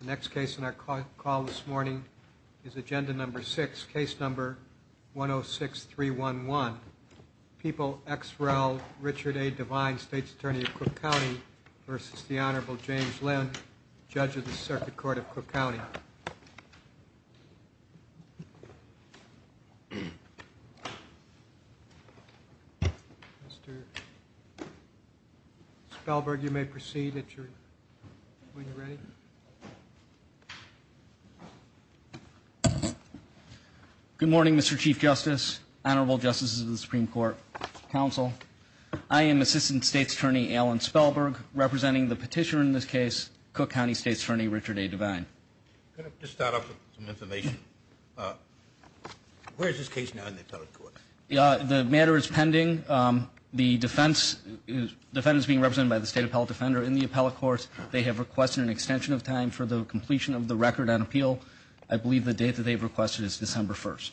The next case in our call this morning is agenda number six, case number 106-311. People X. Rel. Richard A. Devine, State's Attorney of Cook County, versus the Honorable James Linn, Judge of the Circuit Court of Cook County. Mr. Spellberg, you may proceed at your, when you're ready. Good morning, Mr. Chief Justice, Honorable Justices of the Supreme Court, Council. I am Assistant State's Attorney Alan Spellberg, representing the petitioner in this case, Cook County State's Attorney Richard A. Devine. Could I just start off with some information? Where is this case now in the appellate court? The matter is pending. The defendant is being extension of time for the completion of the record on appeal. I believe the date that they've requested is December 1st.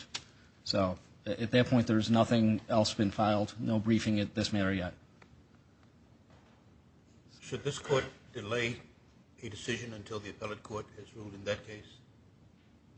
So at that point, there's nothing else been filed, no briefing at this matter yet. Should this court delay a decision until the appellate court has ruled in that case?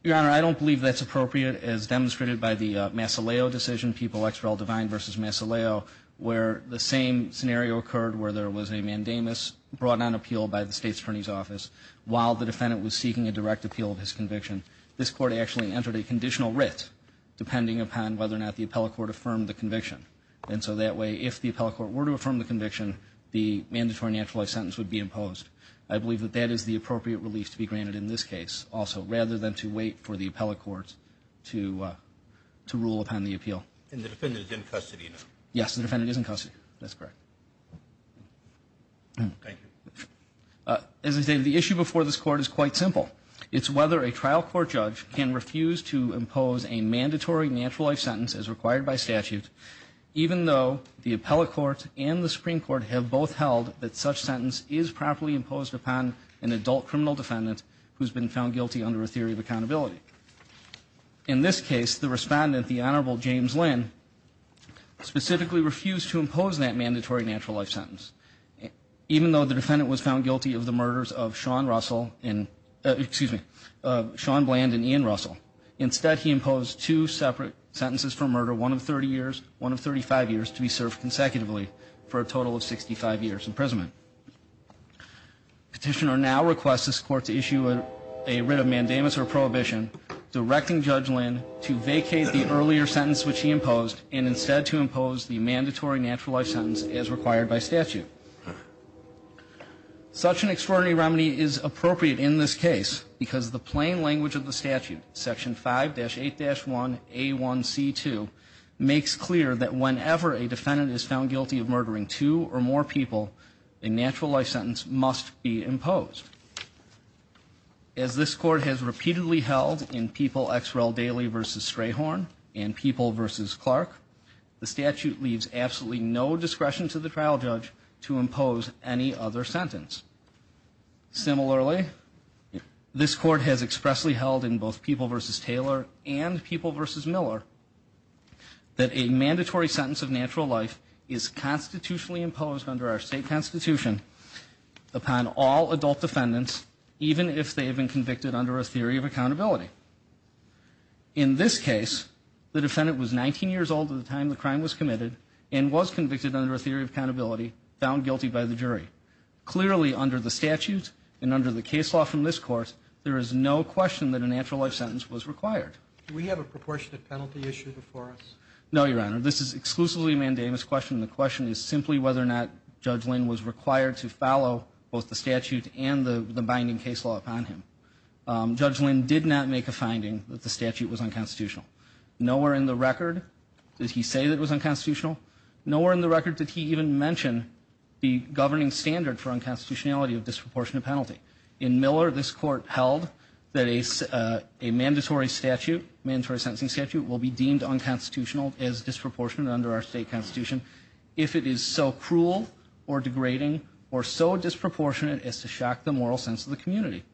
Your Honor, I don't believe that's appropriate, as demonstrated by the Massileo decision, People X. Rel. Devine versus Massileo, where the same scenario occurred, where there was a mandamus brought on appeal by the State's Attorney's Office while the defendant was seeking a direct appeal of his conviction. This court actually entered a conditional writ, depending upon whether or not the appellate court affirmed the conviction. And so that way, if the appellate court were to affirm the conviction, the mandatory naturalized sentence would be imposed. I believe that that is the appropriate relief to be granted in this case also, rather than to wait for the appellate court to rule upon the appeal. And the defendant is in custody now? Yes, the defendant is in custody. That's correct. As I stated, the issue before this court is quite simple. It's whether a trial court judge can refuse to impose a mandatory naturalized sentence as required by statute, even though the appellate court and the Supreme Court have both held that such sentence is properly imposed upon an adult criminal defendant who's been found guilty under a theory of accountability. In this case, the respondent, the Honorable James Lynn, specifically refused to impose that mandatory naturalized sentence, even though the defendant was found guilty of the murders of Sean Russell and, excuse me, Sean Bland and Ian Russell. Instead, he imposed two separate sentences for murder, one of 30 years, one of 35 years, to be served consecutively for a total of 65 years imprisonment. Petitioner now requests this court to issue a writ of mandamus or prohibition directing Judge Lynn to vacate the earlier sentence which he imposed and instead to impose the mandatory naturalized sentence as required by statute. Such an extraordinary remedy is appropriate in this case because the plain language of the statute, Section 5-8-1A1C2, makes clear that whenever a defendant is found guilty of murdering two or more people, a naturalized sentence must be imposed. As this court has repeatedly held in People X. Rel. Daly v. Strayhorn and People v. Clark, the statute leaves absolutely no discretion to the trial judge to impose any other sentence. Similarly, this court has expressly held in both People v. Taylor and People v. Miller that a mandatory sentence of natural life is constitutionally imposed under our state constitution upon all adult defendants, even if they have been convicted under a theory of accountability. In this case, the defendant was 19 years old at the time the crime was committed and was convicted under a theory of accountability, found guilty by the jury. Clearly, under the statute and under the case law from this court, there is no question that a naturalized sentence was required. Do we have a proportionate penalty issued before us? No, Your Honor. This is exclusively a mandamus question. The question is simply whether or not Judge Lynn was required to follow both the statute and the binding case law upon him. Judge Lynn did not make a finding that the statute was unconstitutional. Nowhere in the record did he say that it was unconstitutional. Nowhere in the record did he even mention the governing standard for unconstitutionality of disproportionate penalty. In Miller, this court held that a mandatory statute, mandatory sentencing statute, will be deemed unconstitutional as disproportionate under our state constitution if it is so cruel or degrading or so disproportionate as to shock the moral sense of the community.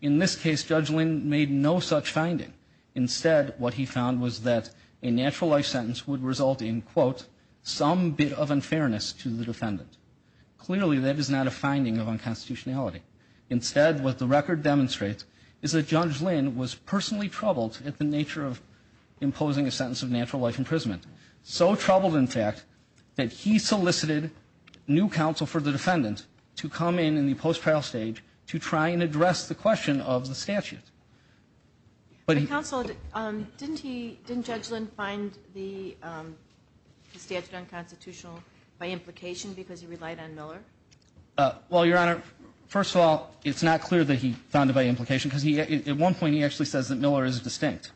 In this case, Judge Lynn made no such finding. Instead, what he found was that a naturalized sentence would result in, quote, some bit of unfairness to the defendant. Clearly, that is not a finding of unconstitutionality. Instead, what the record demonstrates is that Judge Lynn was personally troubled at the that he solicited new counsel for the defendant to come in, in the post-trial stage, to try and address the question of the statute. But he Counsel, didn't he, didn't Judge Lynn find the statute unconstitutional by implication because he relied on Miller? Well, Your Honor, first of all, it's not clear that he found it by implication because he, at one point, he actually says that Miller is distinct.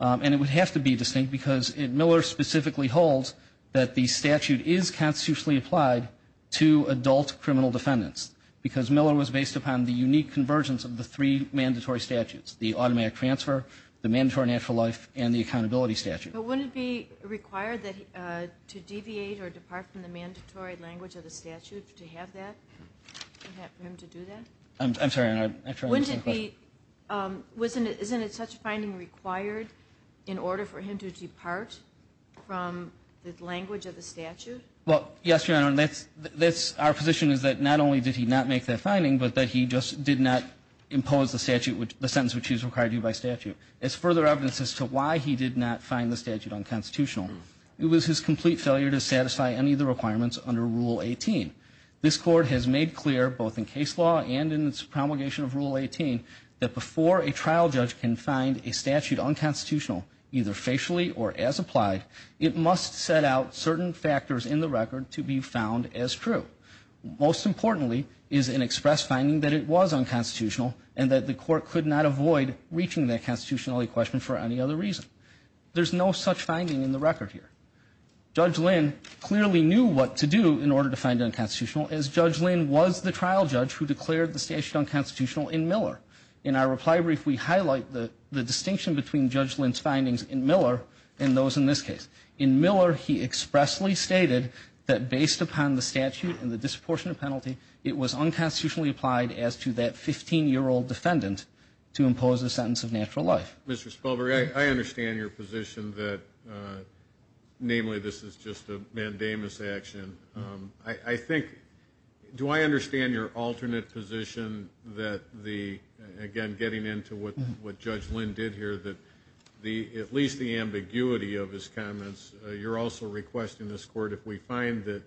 And it would have to be distinct because Miller specifically holds that the statute is constitutionally applied to adult criminal defendants, because Miller was based upon the unique convergence of the three mandatory statutes, the automatic transfer, the mandatory natural life, and the accountability statute. But wouldn't it be required that, to deviate or depart from the mandatory language of the statute, to have that, for him to do that? I'm sorry, Your Honor, I'm trying to understand the question. Wasn't it, isn't it such a finding required in order for him to depart from the language of the statute? Well, yes, Your Honor, that's, that's, our position is that not only did he not make that finding, but that he just did not impose the statute, the sentence which he's required to do by statute. As further evidence as to why he did not find the statute unconstitutional, it was his complete failure to satisfy any of the requirements under Rule 18. This Court has made clear, both in case law and in its promulgation of Rule 18, that before a trial judge can find a statute unconstitutional, either facially or as applied, it must set out certain factors in the record to be found as true. Most importantly is an express finding that it was unconstitutional and that the Court could not avoid reaching that constitutionality question for any other reason. There's no such finding in the record here. Judge Lynn clearly knew what to do in order to find it unconstitutional, as Judge Lynn was the trial judge who declared the statute unconstitutional in Miller. In our reply brief, we highlight the, the distinction between Judge Lynn's findings in Miller and those in this case. In Miller, he expressly stated that based upon the statute and the disproportionate penalty, it was unconstitutionally applied as to that 15-year-old defendant to impose a sentence of natural life. Mr. Spelberg, I, I understand your position that, namely, this is just a mandamus action. I, I think, do I understand your alternate position that the, again, getting into what, what Judge Lynn did here, that the, at least the ambiguity of his comments, you're also requesting this Court, if we find that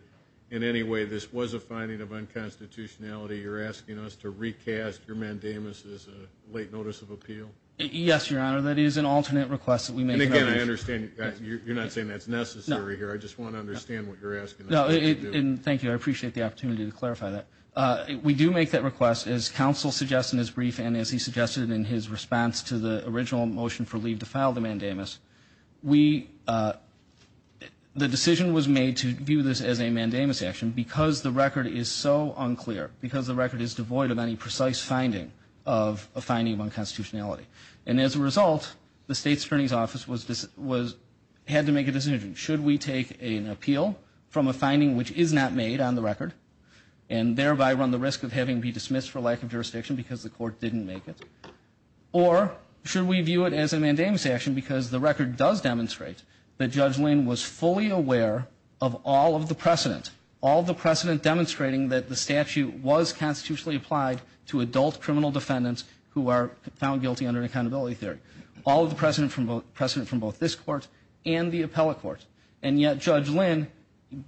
in any way this was a finding of unconstitutionality, you're asking us to recast your mandamus as a late notice of appeal? Yes, Your Honor, that is an alternate request that we make. And again, I understand, you're not saying that's necessary here. I just want to understand what you're asking us to do. No, and thank you, I appreciate the opportunity to clarify that. We do make that request, as counsel suggests in his brief and as he suggested in his response to the original motion for leave to file the mandamus. We, the decision was made to view this as a mandamus action because the record is so unclear, because the record is devoid of any precise finding of, a finding of unconstitutionality. And as a result, the State's Attorney's Office was, was, had to make a decision. Should we take an appeal from a finding which is not made on the record, and thereby run the risk of having to be dismissed for lack of jurisdiction because the court didn't make it? Or, should we view it as a mandamus action because the record does demonstrate that Judge Lynn was fully aware of all of the precedent, all the precedent demonstrating that the statute was constitutionally applied to adult criminal defendants who are found guilty under accountability theory. All of the precedent from both, precedent from both this court and the appellate court. And yet, Judge Lynn,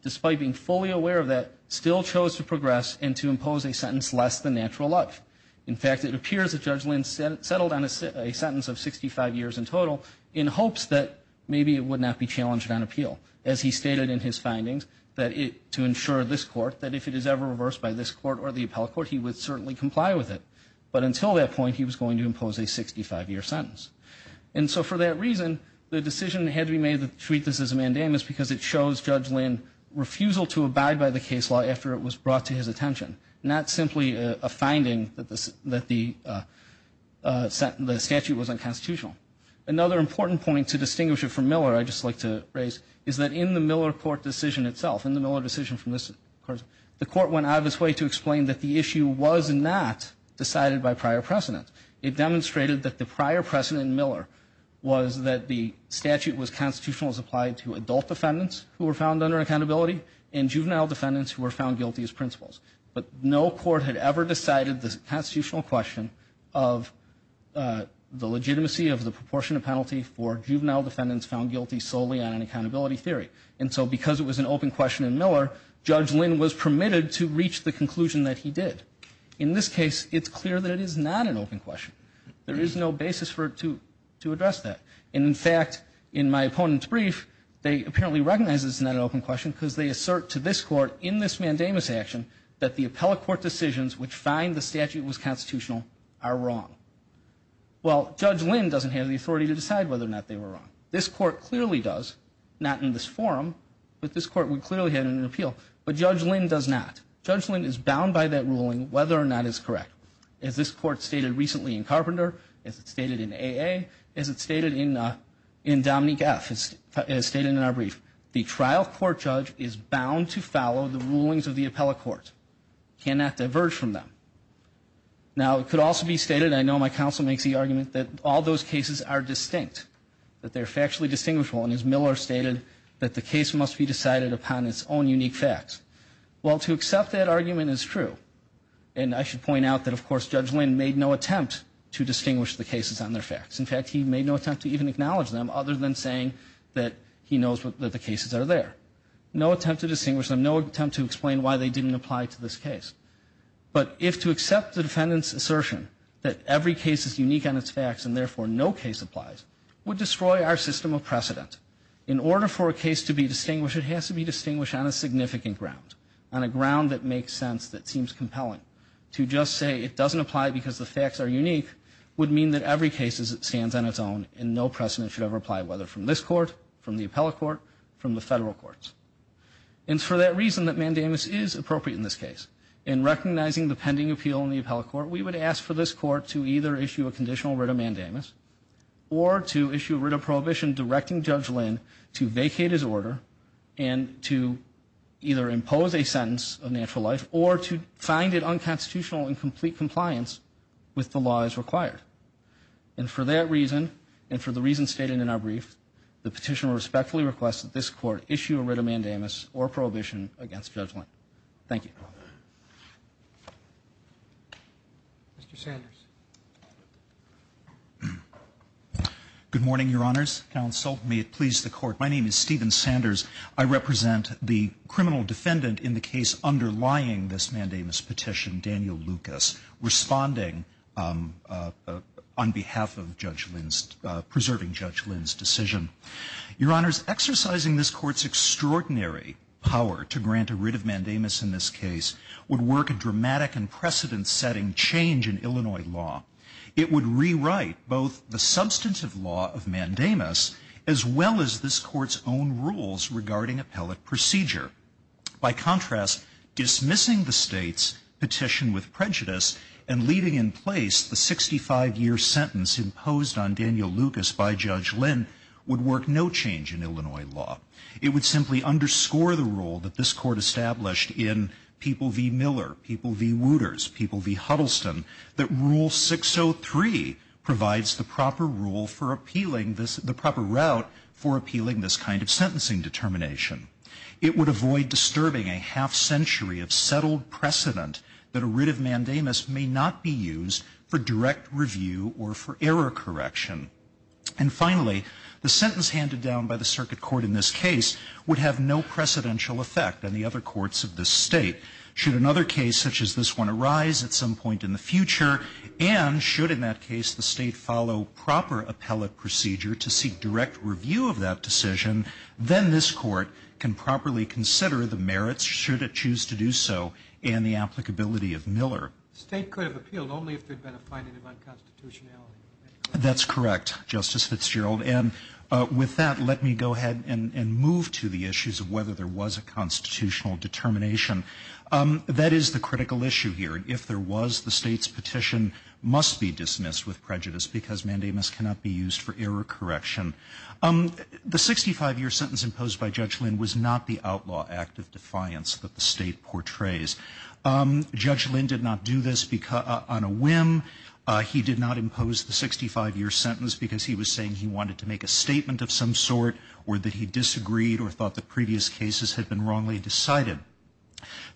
despite being fully aware of that, still chose to progress and to impose a sentence less than natural life. In fact, it appears that Judge Lynn settled on a sentence of 65 years in total in hopes that maybe it would not be challenged on appeal. As he stated in his findings, that it, to ensure this court, that if it is ever reversed by this court or the appellate court, he would certainly comply with it. But until that point, he was going to impose a 65 year sentence. And so for that reason, the decision had to be made to treat this as a mandamus because it shows Judge Lynn refusal to abide by the case law after it was brought to his attention, not simply a finding that the statute was unconstitutional. Another important point to distinguish it from Miller, I'd just like to raise, is that in the Miller court decision itself, in the Miller decision from this court went out of its way to explain that the issue was not decided by prior precedent. It demonstrated that the prior precedent in Miller was that the statute was constitutional as applied to adult defendants who were found under accountability and juvenile defendants who were found guilty as principles. But no court had ever decided the constitutional question of the legitimacy of the proportionate penalty for juvenile defendants found guilty solely on an accountability theory. And so because it was an open question in Miller, Judge Lynn was permitted to reach the conclusion that he did. In this case, it's clear that it is not an open question. There is no basis for it to address that. And in fact, in my opponent's brief, they apparently recognize it's not an open question because they assert to this court in this mandamus action that the appellate court decisions which find the statute was constitutional are wrong. Well, Judge Lynn doesn't have the authority to decide whether or not they were wrong. This court clearly does, not in this forum, but this court would clearly have an appeal. But Judge Lynn does not. Judge Lynn is bound by that ruling whether or not it's correct. As this court stated recently in Carpenter, as it stated in AA, as it stated in Dominique F., as stated in our brief, the trial court judge is bound to follow the rulings of the appellate court, cannot diverge from them. Now, it could also be stated, and I know my counsel makes the argument, that all those cases are distinct, that they're factually distinguishable. And as Miller stated, that the case must be decided upon its own unique facts. Well, to accept that argument is true. And I should point out that, of course, Judge Lynn made no attempt to distinguish the cases on their facts. In fact, he made no attempt to even acknowledge them other than saying that he knows that the cases are there. No attempt to distinguish them, no attempt to explain why they didn't apply to this case. But if to accept the defendant's assertion that every case is unique on its facts and therefore no case applies, would destroy our system of precedent. In order for a case to be distinguished, it has to be distinguished on a significant ground, on a ground that makes sense, that seems compelling. To just say it doesn't apply because the facts are unique would mean that every case stands on its own and no precedent should ever apply, whether from this court, from the appellate court, from the federal courts. And for that reason that mandamus is appropriate in this case. In recognizing the pending appeal in the appellate court, we would ask for this court to either issue a conditional writ of mandamus or to issue a writ of prohibition directing Judge Lynn to vacate his order and to either impose a sentence of natural life or to find it unconstitutional in complete compliance with the laws required. And for that reason and for the reasons stated in our brief, the petitioner respectfully requests that this court issue a writ of mandamus or prohibition against Judge Lynn. Thank you. Mr. Sanders. Good morning, Your Honors. Counsel, may it please the Court. My name is Stephen Sanders. I represent the criminal defendant in the case underlying this mandamus petition, Daniel Lucas, responding on behalf of Judge Lynn's, preserving Judge Lynn's decision. Your Honors, exercising this Court's extraordinary power to grant a writ of mandamus in this case would work a dramatic and precedent-setting change in Illinois law. It would rewrite both the substantive law of mandamus as well as this Court's own rules regarding appellate procedure. By contrast, dismissing the State's petition with prejudice and leaving in place the 65-year sentence imposed on Daniel Lucas by Judge Lynn would work no change in Illinois law. It would simply underscore the rule that this Court established in People v. Miller, People v. Wooters, People v. Huddleston, that Rule 603 provides the proper rule for appealing this, the proper route for appealing this kind of sentencing determination. It would avoid disturbing a half-century of settled precedent that a writ of mandamus may not be used for direct review or for error correction. And finally, the sentence handed down by the Circuit Court in this case would have no precedential effect on the other courts of this State. Should another case such as this one arise at some point in the future and should in that case the State follow proper appellate procedure to seek direct review of that decision, then this Court can properly consider the merits should it choose to do so and the applicability of Miller. The State could have appealed only if there had been a finding of unconstitutionality. That's correct, Justice Fitzgerald. And with that, let me go ahead and move to the issues of whether there was a constitutional determination. That is the critical issue here. If there was, the State's petition must be dismissed with prejudice because mandamus cannot be used for error correction. The 65-year sentence imposed by Judge Lynn was not the outlaw act of defiance that the State portrays. Judge Lynn did not do this on a whim. He did not impose the 65-year sentence because he was saying he wanted to make a statement of some sort or that he disagreed or thought the previous cases had been wrongly decided.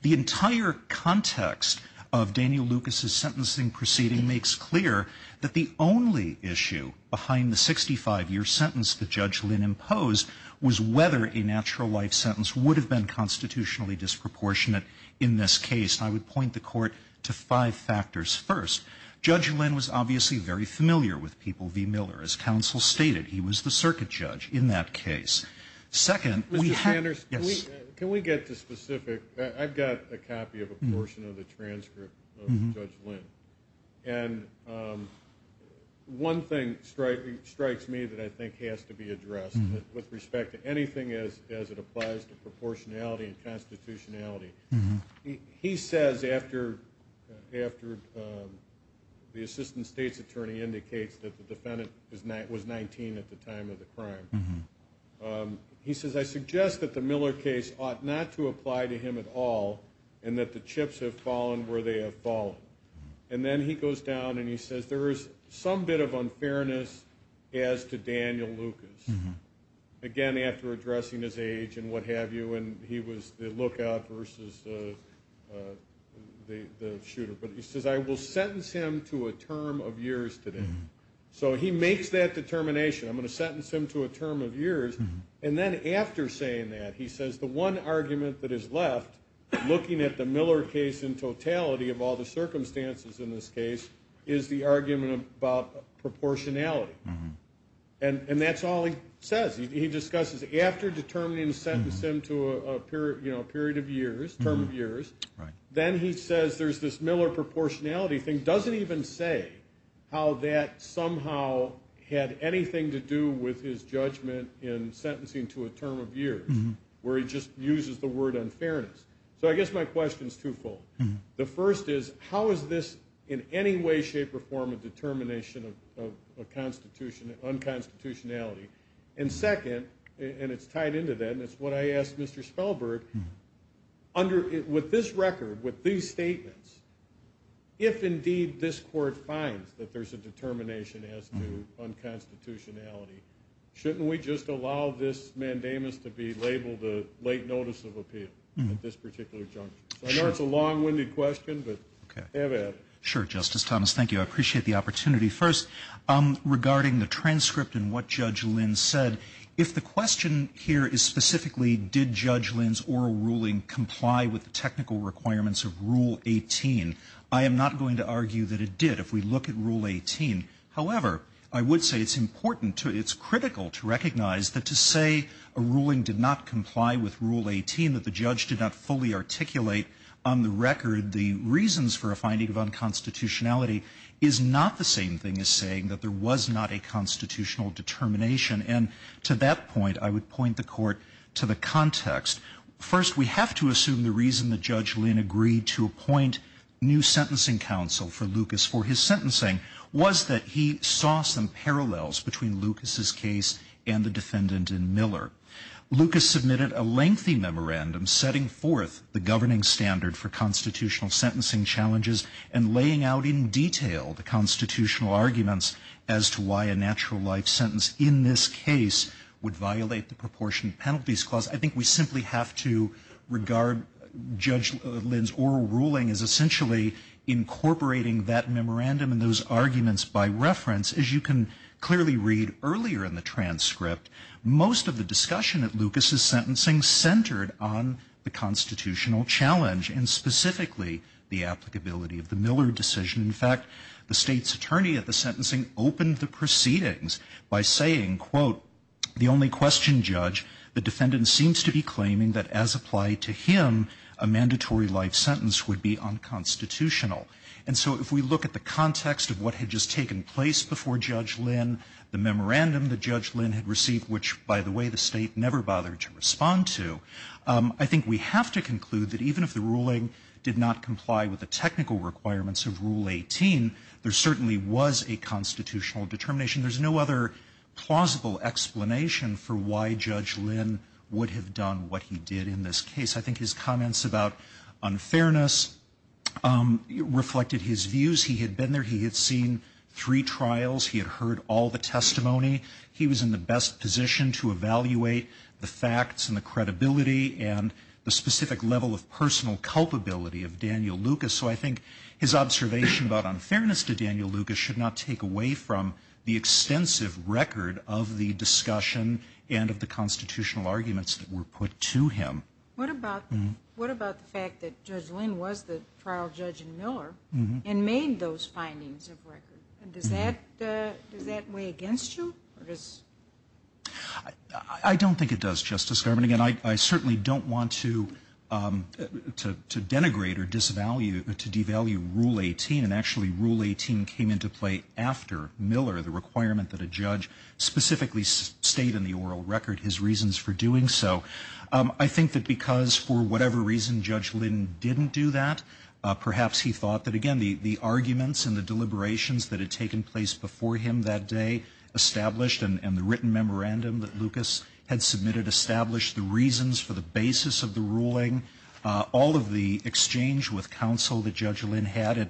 The entire context of Daniel Lucas's sentencing proceeding makes clear that the only issue behind the 65-year sentence that Judge Lynn imposed was whether a natural life sentence would have been constitutionally disproportionate in this case. I would point the Court to five factors. First, Judge Lynn was obviously very familiar with people v. Miller. As counsel stated, he was the circuit judge in that case. Second, we had. Yes. Can we get to specific? I've got a copy of a portion of the transcript of Judge Lynn. And one thing strikes me that I think has to be addressed with respect to anything as it applies to proportionality and constitutionality. He says after the Assistant State's Attorney indicates that the defendant was 19 at the time of the crime, he says, I suggest that the Miller case ought not to apply to him at all and that the chips have fallen where they have fallen. And then he goes down and he says there is some bit of unfairness as to Daniel Lucas. Again, after addressing his age and what have you, and he was the lookout versus the shooter. But he says, I will sentence him to a term of years today. So he makes that determination. I'm going to sentence him to a term of years. And then after saying that, he says the one argument that is left, looking at the Miller case in totality of all the circumstances in this case, is the argument about proportionality. And that's all he says. He discusses after determining to sentence him to a period of years, term of years, then he says there's this Miller proportionality thing. Doesn't even say how that somehow had anything to do with his judgment in sentencing to a term of years, where he just uses the word unfairness. So I guess my question is twofold. The first is, how is this in any way, shape, or form a determination of unconstitutionality? And second, and it's tied into that, and it's what I asked Mr. Spellberg, with this record, with these statements, if indeed this court finds that there's a determination as to unconstitutionality, shouldn't we just allow this mandamus to be labeled a late notice of appeal at this particular juncture? I know it's a long-winded question, but have at it. Sure, Justice Thomas. Thank you. I appreciate the opportunity. First, regarding the transcript and what Judge Lynn said, if the question here is specifically did Judge Lynn's oral ruling comply with the technical requirements of Rule 18, I am not going to argue that it did. If we look at Rule 18, however, I would say it's important to, it's critical to recognize that to say a ruling did not comply with Rule 18, that the judge did not fully articulate on the record the reasons for a finding of unconstitutionality, is not the same thing as saying that there was not a constitutional determination. And to that point, I would point the Court to the context. First, we have to assume the reason that Judge Lynn agreed to appoint new sentencing counsel for Lucas for his sentencing was that he saw some parallels between Lucas's case and the defendant in Miller. Lucas submitted a lengthy memorandum setting forth the governing standard for constitutional sentencing challenges and laying out in detail the constitutional arguments as to why a natural life sentence in this case would violate the Proportion Penalties Clause. I think we simply have to regard Judge Lynn's oral ruling as essentially incorporating that Most of the discussion at Lucas's sentencing centered on the constitutional challenge and specifically the applicability of the Miller decision. In fact, the State's attorney at the sentencing opened the proceedings by saying, quote, The only question, Judge, the defendant seems to be claiming that as applied to him, a mandatory life sentence would be unconstitutional. And so if we look at the context of what had just taken place before Judge Lynn, the memorandum that Judge Lynn had received, which, by the way, the State never bothered to respond to, I think we have to conclude that even if the ruling did not comply with the technical requirements of Rule 18, there certainly was a constitutional determination. There's no other plausible explanation for why Judge Lynn would have done what he did in this case. I think his comments about unfairness reflected his views. He had been there. He had seen three trials. He had heard all the testimony. He was in the best position to evaluate the facts and the credibility and the specific level of personal culpability of Daniel Lucas. So I think his observation about unfairness to Daniel Lucas should not take away from the extensive record of the discussion and of the constitutional arguments that were put to him. What about the fact that Judge Lynn was the trial judge in Miller and made those findings of record? And does that weigh against you? I don't think it does, Justice Garvin. Again, I certainly don't want to denigrate or devalue Rule 18. And actually, Rule 18 came into play after Miller, the requirement that a judge specifically state in the oral record his reasons for doing so. I think that because for whatever reason Judge Lynn didn't do that, perhaps he thought that, again, the arguments and the deliberations that had taken place before him that day established, and the written memorandum that Lucas had submitted established the reasons for the basis of the ruling, all of the exchange with counsel that Judge Lynn had. And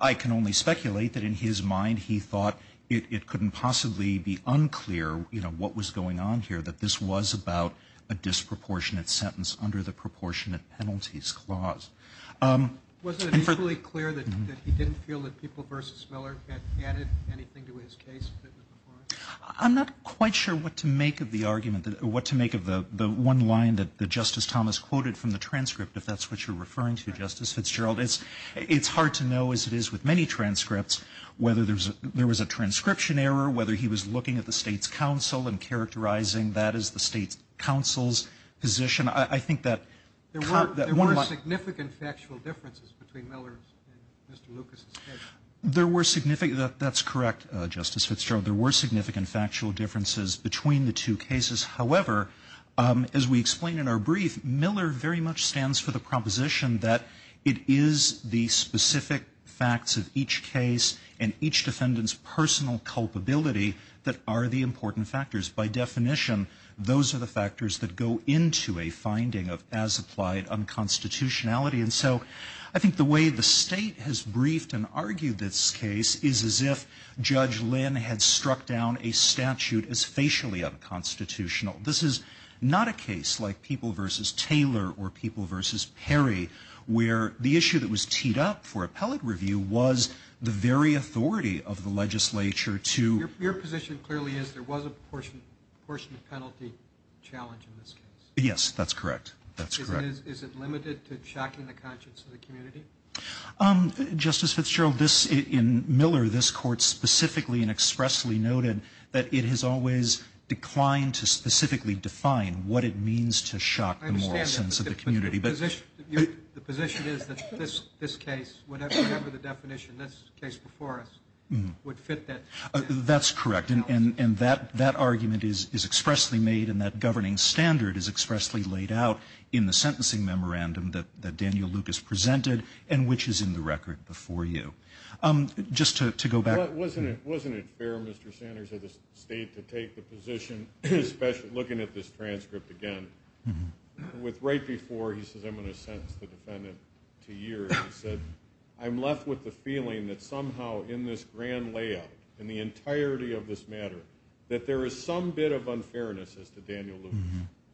I can only speculate that in his mind, he thought it couldn't possibly be unclear what was going on here, that this was about a disproportionate sentence under the Proportionate Penalties Clause. Wasn't it equally clear that he didn't feel that People v. Miller had added anything to his case that was before him? I'm not quite sure what to make of the argument, what to make of the one line that Justice Thomas quoted from the transcript, if that's what you're referring to, Justice Fitzgerald. It's hard to know, as it is with many transcripts, whether there was a transcription error, whether he was looking at the state's counsel and characterizing that as the state's counsel's position. I think that one of the... There were significant factual differences between Miller's and Mr. Lucas's case. There were significant... That's correct, Justice Fitzgerald. There were significant factual differences between the two cases. However, as we explain in our brief, Miller very much stands for the proposition that it is the specific facts of each case and each defendant's personal culpability that are the important factors. By definition, those are the factors that go into a finding of as-applied unconstitutionality. And so I think the way the State has briefed and argued this case is as if Judge Lynn had struck down a statute as facially unconstitutional. This is not a case like People v. Taylor or People v. Perry, where the issue that was teed up for appellate review was the very authority of the legislature to... ...portion the penalty challenge in this case. Yes, that's correct. That's correct. Is it limited to shocking the conscience of the community? Justice Fitzgerald, in Miller, this Court specifically and expressly noted that it has always declined to specifically define what it means to shock the moral sense of the community. But the position is that this case, whatever the definition, this case before us, would fit that challenge. That's correct. And that argument is expressly made and that governing standard is expressly laid out in the sentencing memorandum that Daniel Lucas presented and which is in the record before you. Just to go back... Wasn't it fair, Mr. Sanders, of the State to take the position, especially looking at this transcript again, with right before he says, I'm going to sentence the defendant to years, he said, I'm left with the feeling that somehow in this grand layout, in the entirety of this matter, that there is some bit of unfairness as to Daniel Lucas.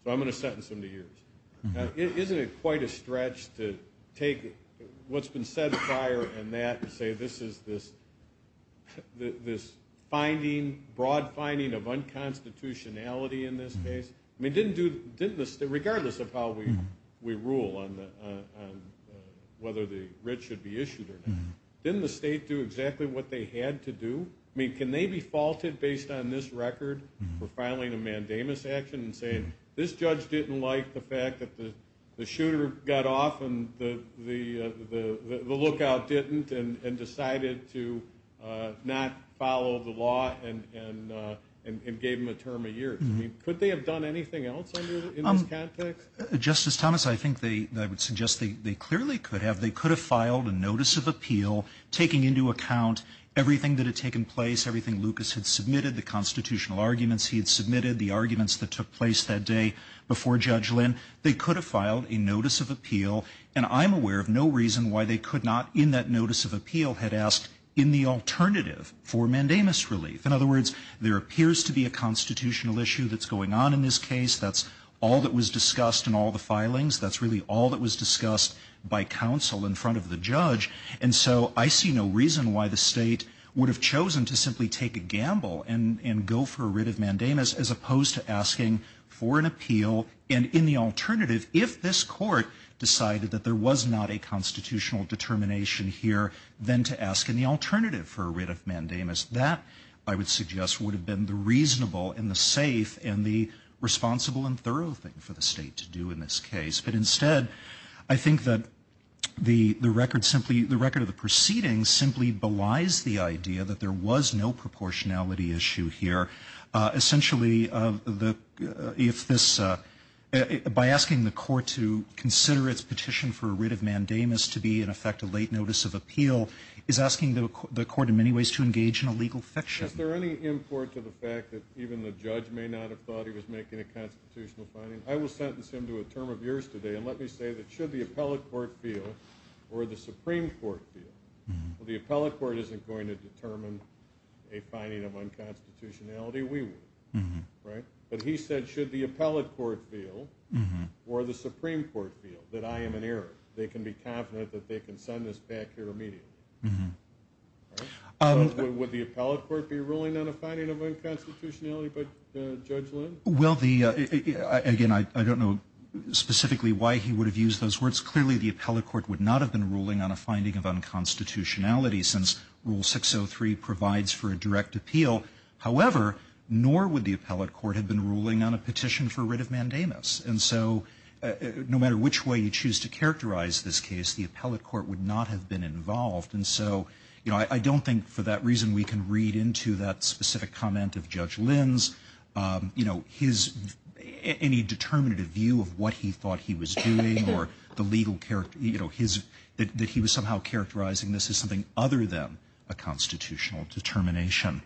So I'm going to sentence him to years. Isn't it quite a stretch to take what's been set fire and that and say this is this finding, broad finding of unconstitutionality in this case? I mean, didn't the State, regardless of how we rule on whether the writ should be due, I mean, can they be faulted based on this record for filing a mandamus action and saying this judge didn't like the fact that the shooter got off and the lookout didn't and decided to not follow the law and gave him a term of years? I mean, could they have done anything else in this context? Justice Thomas, I think they, I would suggest they clearly could have. They could have filed a notice of appeal, taking into account everything that had taken place, everything Lucas had submitted, the constitutional arguments he had submitted, the arguments that took place that day before Judge Lynn. They could have filed a notice of appeal, and I'm aware of no reason why they could not, in that notice of appeal, had asked in the alternative for mandamus relief. In other words, there appears to be a constitutional issue that's going on in this case. That's all that was discussed in all the filings. That's really all that was discussed by counsel in front of the judge, and so I see no reason why the state would have chosen to simply take a gamble and go for a writ of mandamus as opposed to asking for an appeal, and in the alternative, if this court decided that there was not a constitutional determination here, then to ask in the alternative for a writ of mandamus. That, I would suggest, would have been the reasonable and the safe and the appropriate, but instead, I think that the record simply, the record of the proceedings simply belies the idea that there was no proportionality issue here. Essentially, if this, by asking the court to consider its petition for a writ of mandamus to be, in effect, a late notice of appeal, is asking the court, in many ways, to engage in a legal fiction. Is there any import to the fact that even the judge may not have thought he was making a constitutional finding? I will sentence him to a term of years today, and let me say that should the appellate court feel or the Supreme Court feel, well, the appellate court isn't going to determine a finding of unconstitutionality. We would, right? But he said, should the appellate court feel or the Supreme Court feel that I am an error, they can be confident that they can send this back here immediately. Would the appellate court be ruling on a finding of unconstitutionality by Judge Lynn? Well, the, again, I don't know specifically why he would have used those words. Clearly, the appellate court would not have been ruling on a finding of unconstitutionality since Rule 603 provides for a direct appeal. However, nor would the appellate court have been ruling on a petition for writ of mandamus. And so, no matter which way you choose to characterize this case, the appellate court would not have been involved. And so, you know, I don't think for that reason we can read into that specific comment of Judge Lynn's. You know, his, any determinative view of what he thought he was doing or the legal character, you know, his, that he was somehow characterizing this as something other than a constitutional determination.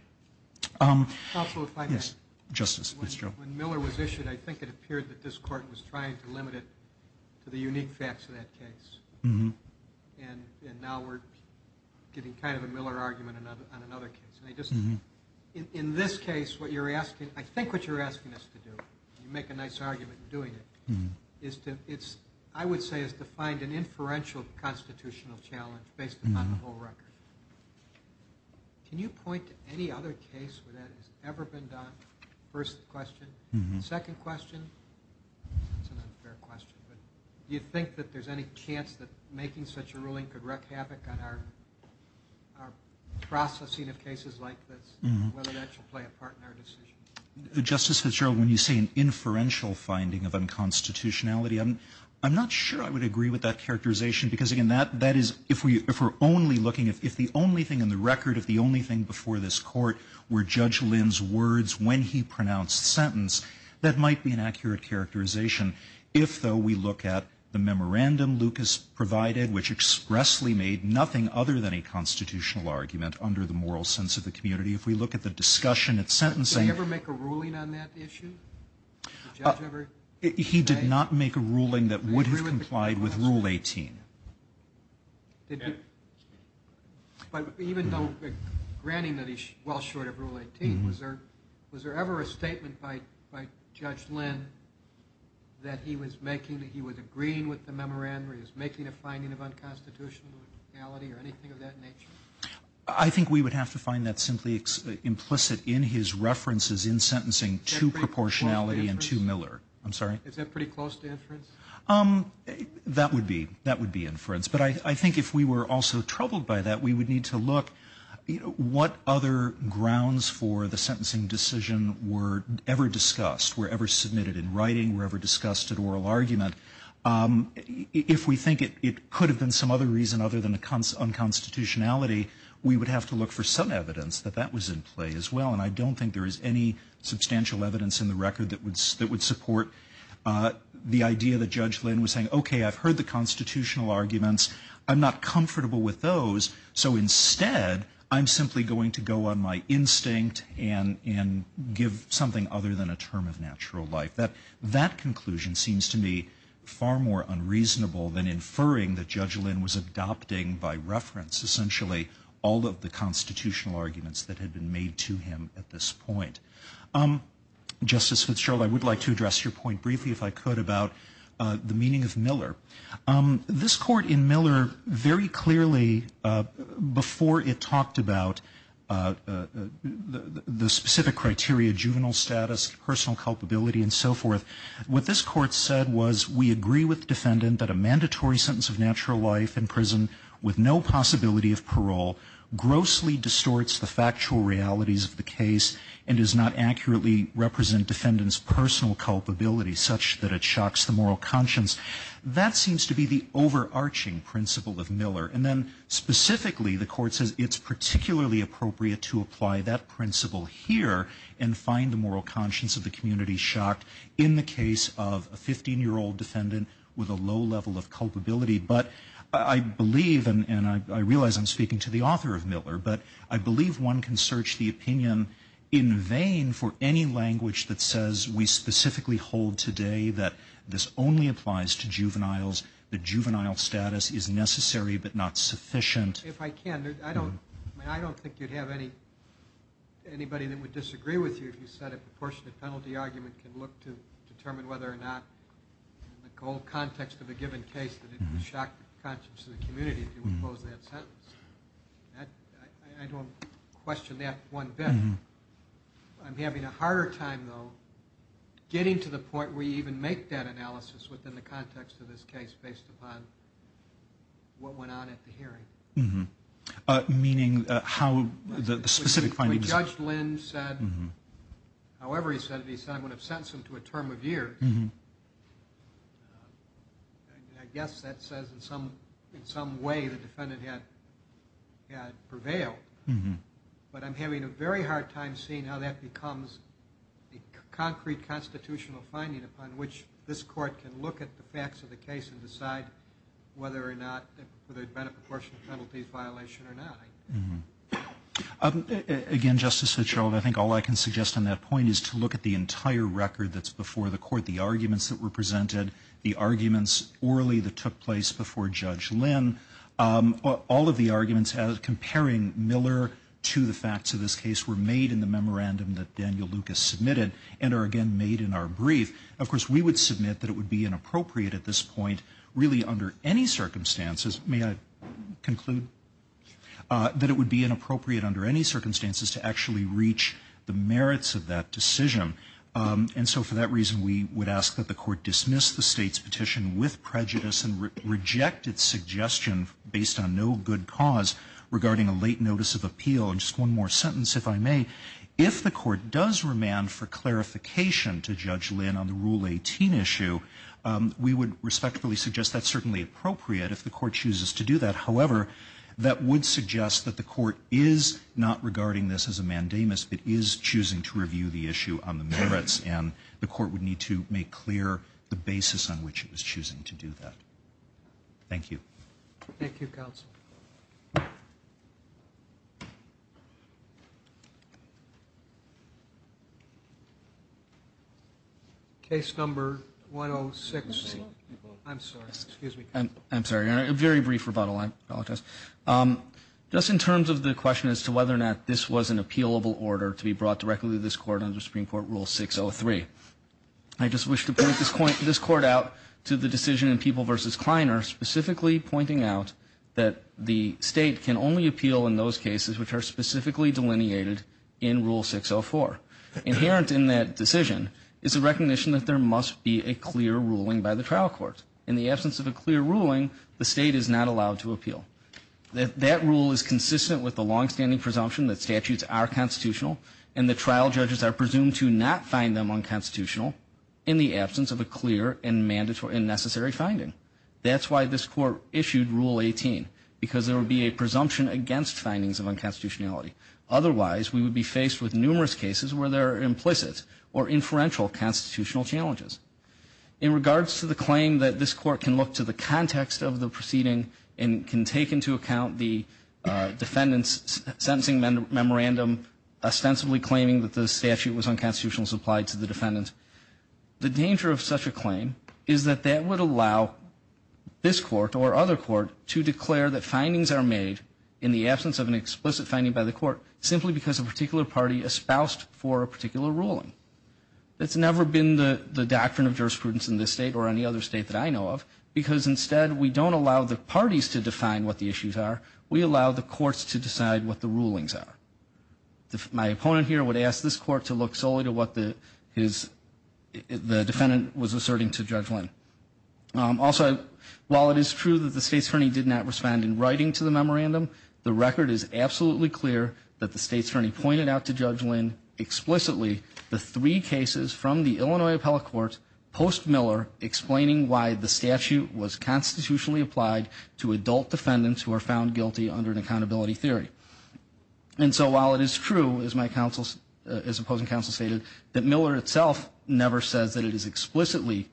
Counsel, if I may? Yes, Justice. When Miller was issued, I think it appeared that this court was trying to limit it to the unique facts of that case. And now we're getting kind of a Miller argument on another case. And I just, in this case, what you're asking, I think what you're asking us to do, you make a nice argument in doing it, is to, it's, I would say, is to find an inferential constitutional challenge based upon the whole record. Can you point to any other case where that has ever been done? First question. Second question. That's an unfair question, but do you think that there's any chance that making such a ruling could wreak havoc on our, our processing of cases like this, whether that should play a part in our decision? Justice Fitzgerald, when you say an inferential finding of unconstitutionality, I'm, I'm not sure I would agree with that characterization because, again, that, that is, if we, if we're only looking, if, if the only thing in the record, if the only thing before this court were Judge Lynn's words when he pronounced the sentence, that might be an accurate characterization. If, though, we look at the memorandum Lucas provided, which expressly made nothing other than a constitutional argument under the moral sense of the community. If we look at the discussion at sentencing. Did he ever make a ruling on that issue? He did not make a ruling that would have complied with Rule 18. But even though, granting that he's well short of Rule 18, was there, was there ever a statement by, by Judge Lynn that he was making, that he was agreeing with the memorandum, or he was making a finding of unconstitutionality or anything of that nature? I think we would have to find that simply implicit in his references in sentencing to proportionality and to Miller. I'm sorry? Is that pretty close to inference? Um, that would be, that would be inference. But I, I think if we were also troubled by that, we would need to look, you know, what other grounds for the sentencing decision were ever discussed, were ever submitted in writing, were ever discussed at oral argument. Um, if we think it, it could have been some other reason other than the unconstitutionality, we would have to look for some evidence that that was in play as well. And I don't think there is any substantial evidence in the record that would, that would support, uh, the idea that Judge Lynn was saying, okay, I've heard the constitutional arguments. I'm not comfortable with those. So instead I'm simply going to go on my instinct and, and give something other than a term of natural life. That, that conclusion seems to me far more unreasonable than inferring that Judge Lynn was adopting by reference, essentially all of the constitutional arguments that had been made to him at this point. Um, Justice Fitzgerald, I would like to address your point briefly if I could about, uh, the meaning of Miller. Um, this court in Miller very clearly, uh, before it talked about, uh, uh, the, the, the specific criteria, juvenile status, personal culpability and so forth, what this court said was we agree with defendant that a mandatory sentence of natural life in prison with no possibility of parole grossly distorts the factual realities of the case and is not accurately represent defendant's personal culpability such that it shocks the moral conscience. That seems to be the overarching principle of Miller. And then specifically the court says it's particularly appropriate to apply that principle here and find the moral conscience of the community shocked in the case of a 15 year old defendant with a low level of culpability. But I believe, and I realize I'm speaking to the author of Miller, but I believe one can search the opinion in vain for any language that says we specifically hold today that this only applies to juveniles, the juvenile status is necessary, but not sufficient. If I can, I don't, I don't think you'd have any, anybody that would disagree with you if you said a proportionate penalty argument can look to determine whether or not the whole context of a given case that it would shock the conscience of the community if you would close that sentence. That, I don't question that one bit. I'm having a harder time, though, getting to the point where you even make that analysis within the context of this case based upon what went on at the hearing. Meaning how the specific findings... Judge Lynn said, however he said it, he said I would have sentenced him to a term of years. I guess that says in some, in some way the defendant had, had prevailed. But I'm having a very hard time seeing how that becomes a concrete constitutional finding upon which this court can look at the facts of the case and decide whether or not, whether it had been a proportionate penalties violation or not. Again, Justice Fitzgerald, I think all I can suggest on that point is to look at the entire record that's before the court, the arguments that were presented, the arguments orally that took place before Judge Lynn. All of the arguments as comparing Miller to the facts of this case were made in the memorandum that Daniel Lucas submitted and are again made in our brief. Of course, we would submit that it would be inappropriate at this point, really under any circumstances, may I conclude, that it would be inappropriate under any circumstances to actually reach the merits of that decision. And so for that reason, we would ask that the court dismiss the state's petition with prejudice and reject its suggestion based on no good cause regarding a late notice of appeal. And just one more sentence, if I may, if the court does remand for clarification to Judge Lynn on the Rule 18 issue, we would respectfully suggest that's certainly appropriate if the court chooses to do that. However, that would suggest that the court is not regarding this as a mandamus. It is choosing to review the issue on the merits and the court would need to make clear the basis on which it was choosing to do that. Thank you. Thank you, counsel. Case number 106. I'm sorry. I'm sorry, a very brief rebuttal, I apologize. Just in terms of the question as to whether or not this was an appealable order to be brought directly to this court under Supreme Court Rule 603, I just wish to point this court out to the decision in People v. Kleiner specifically pointing out that the state can only appeal in those cases which are specifically delineated in Rule 604. Inherent in that decision is a recognition that there must be a clear ruling by the trial court. In the absence of a clear ruling, the state is not allowed to appeal. That rule is consistent with the longstanding presumption that statutes are constitutional and the trial judges are presumed to not find them unconstitutional in the absence of a clear and mandatory and necessary finding. That's why this court issued Rule 18, because there would be a presumption against findings of unconstitutionality. Otherwise, we would be faced with numerous cases where there are implicit or inferential constitutional challenges. In regards to the claim that this court can look to the context of the proceeding and can take into account the defendant's sentencing memorandum ostensibly claiming that the statute was unconstitutional as applied to the defendant, the danger of such a claim is that that would allow this court or other court to declare that findings are made in the absence of an explicit finding by the court simply because a particular party espoused for a particular ruling. That's never been the doctrine of jurisprudence in this state or any other state that I know of, because instead we don't allow the parties to define what the issues are. We allow the courts to decide what the rulings are. My opponent here would ask this court to look solely to what the defendant was asserting to Judge Lynn. Also, while it is true that the State's Attorney did not respond in writing to the memorandum, the record is absolutely clear that the State's Attorney pointed out to Judge Lynn explicitly the three cases from the Illinois Appellate Court post Miller explaining why the statute was constitutionally applied to adult defendants who are found guilty under an accountability theory. And so while it is true, as my counsel, as opposing counsel stated, that Miller itself never says that it is explicitly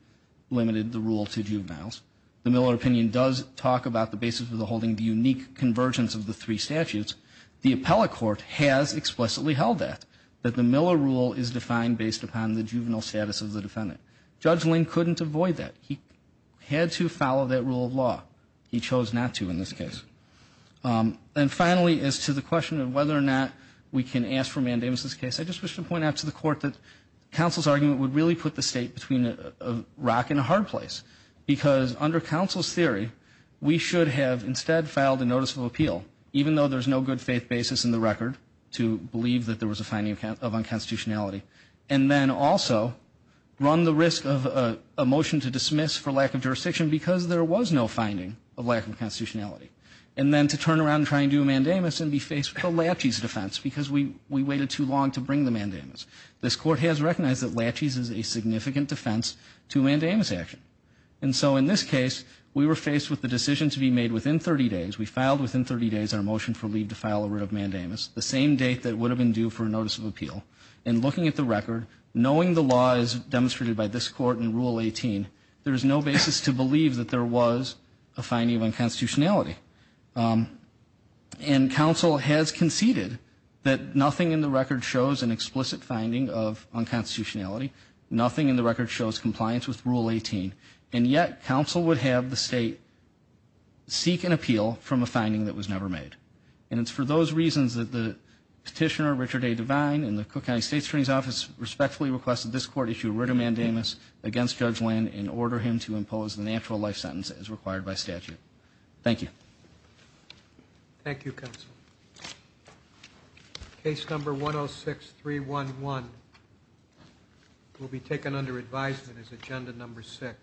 limited the rule to juveniles, the Miller opinion does talk about the basis of the holding the unique convergence of the three statutes. The Appellate Court has explicitly held that, that the Miller rule is defined based upon the juvenile status of the defendant. Judge Lynn couldn't avoid that. He had to follow that rule of law. He chose not to in this case. And finally, as to the question of whether or not we can ask for mandamus in this case, I just wish to point out to the court that counsel's argument would really put the state between a rock and a hard place because under counsel's theory, we should have instead filed a notice of appeal, even though there's no good faith basis in the record to believe that there was a finding of unconstitutionality, and then also run the risk of a motion to dismiss for lack of jurisdiction because there was no finding of lack of constitutionality. And then to turn around and try and do a mandamus and be faced with a laches defense because we, we waited too long to bring the mandamus. This court has recognized that laches is a significant defense to mandamus action. And so in this case, we were faced with the decision to be made within 30 days. We filed within 30 days, our motion for leave to file a writ of mandamus, the same date that would have been due for a notice of appeal. And looking at the record, knowing the law is demonstrated by this court in rule 18, there is no basis to believe that there was a finding of unconstitutionality. Um, and council has conceded that nothing in the record shows an explicit finding of unconstitutionality, nothing in the record shows compliance with rule 18. And yet council would have the state seek an appeal from a finding that was never made. And it's for those reasons that the petitioner Richard A. Devine and the Cook County State's Attorney's Office respectfully requested this court issue a writ of mandamus against Judge Lynn and order him to impose the natural life sentence as required by statute. Thank you. Thank you. Case number 106311 will be taken under advisement as agenda number six.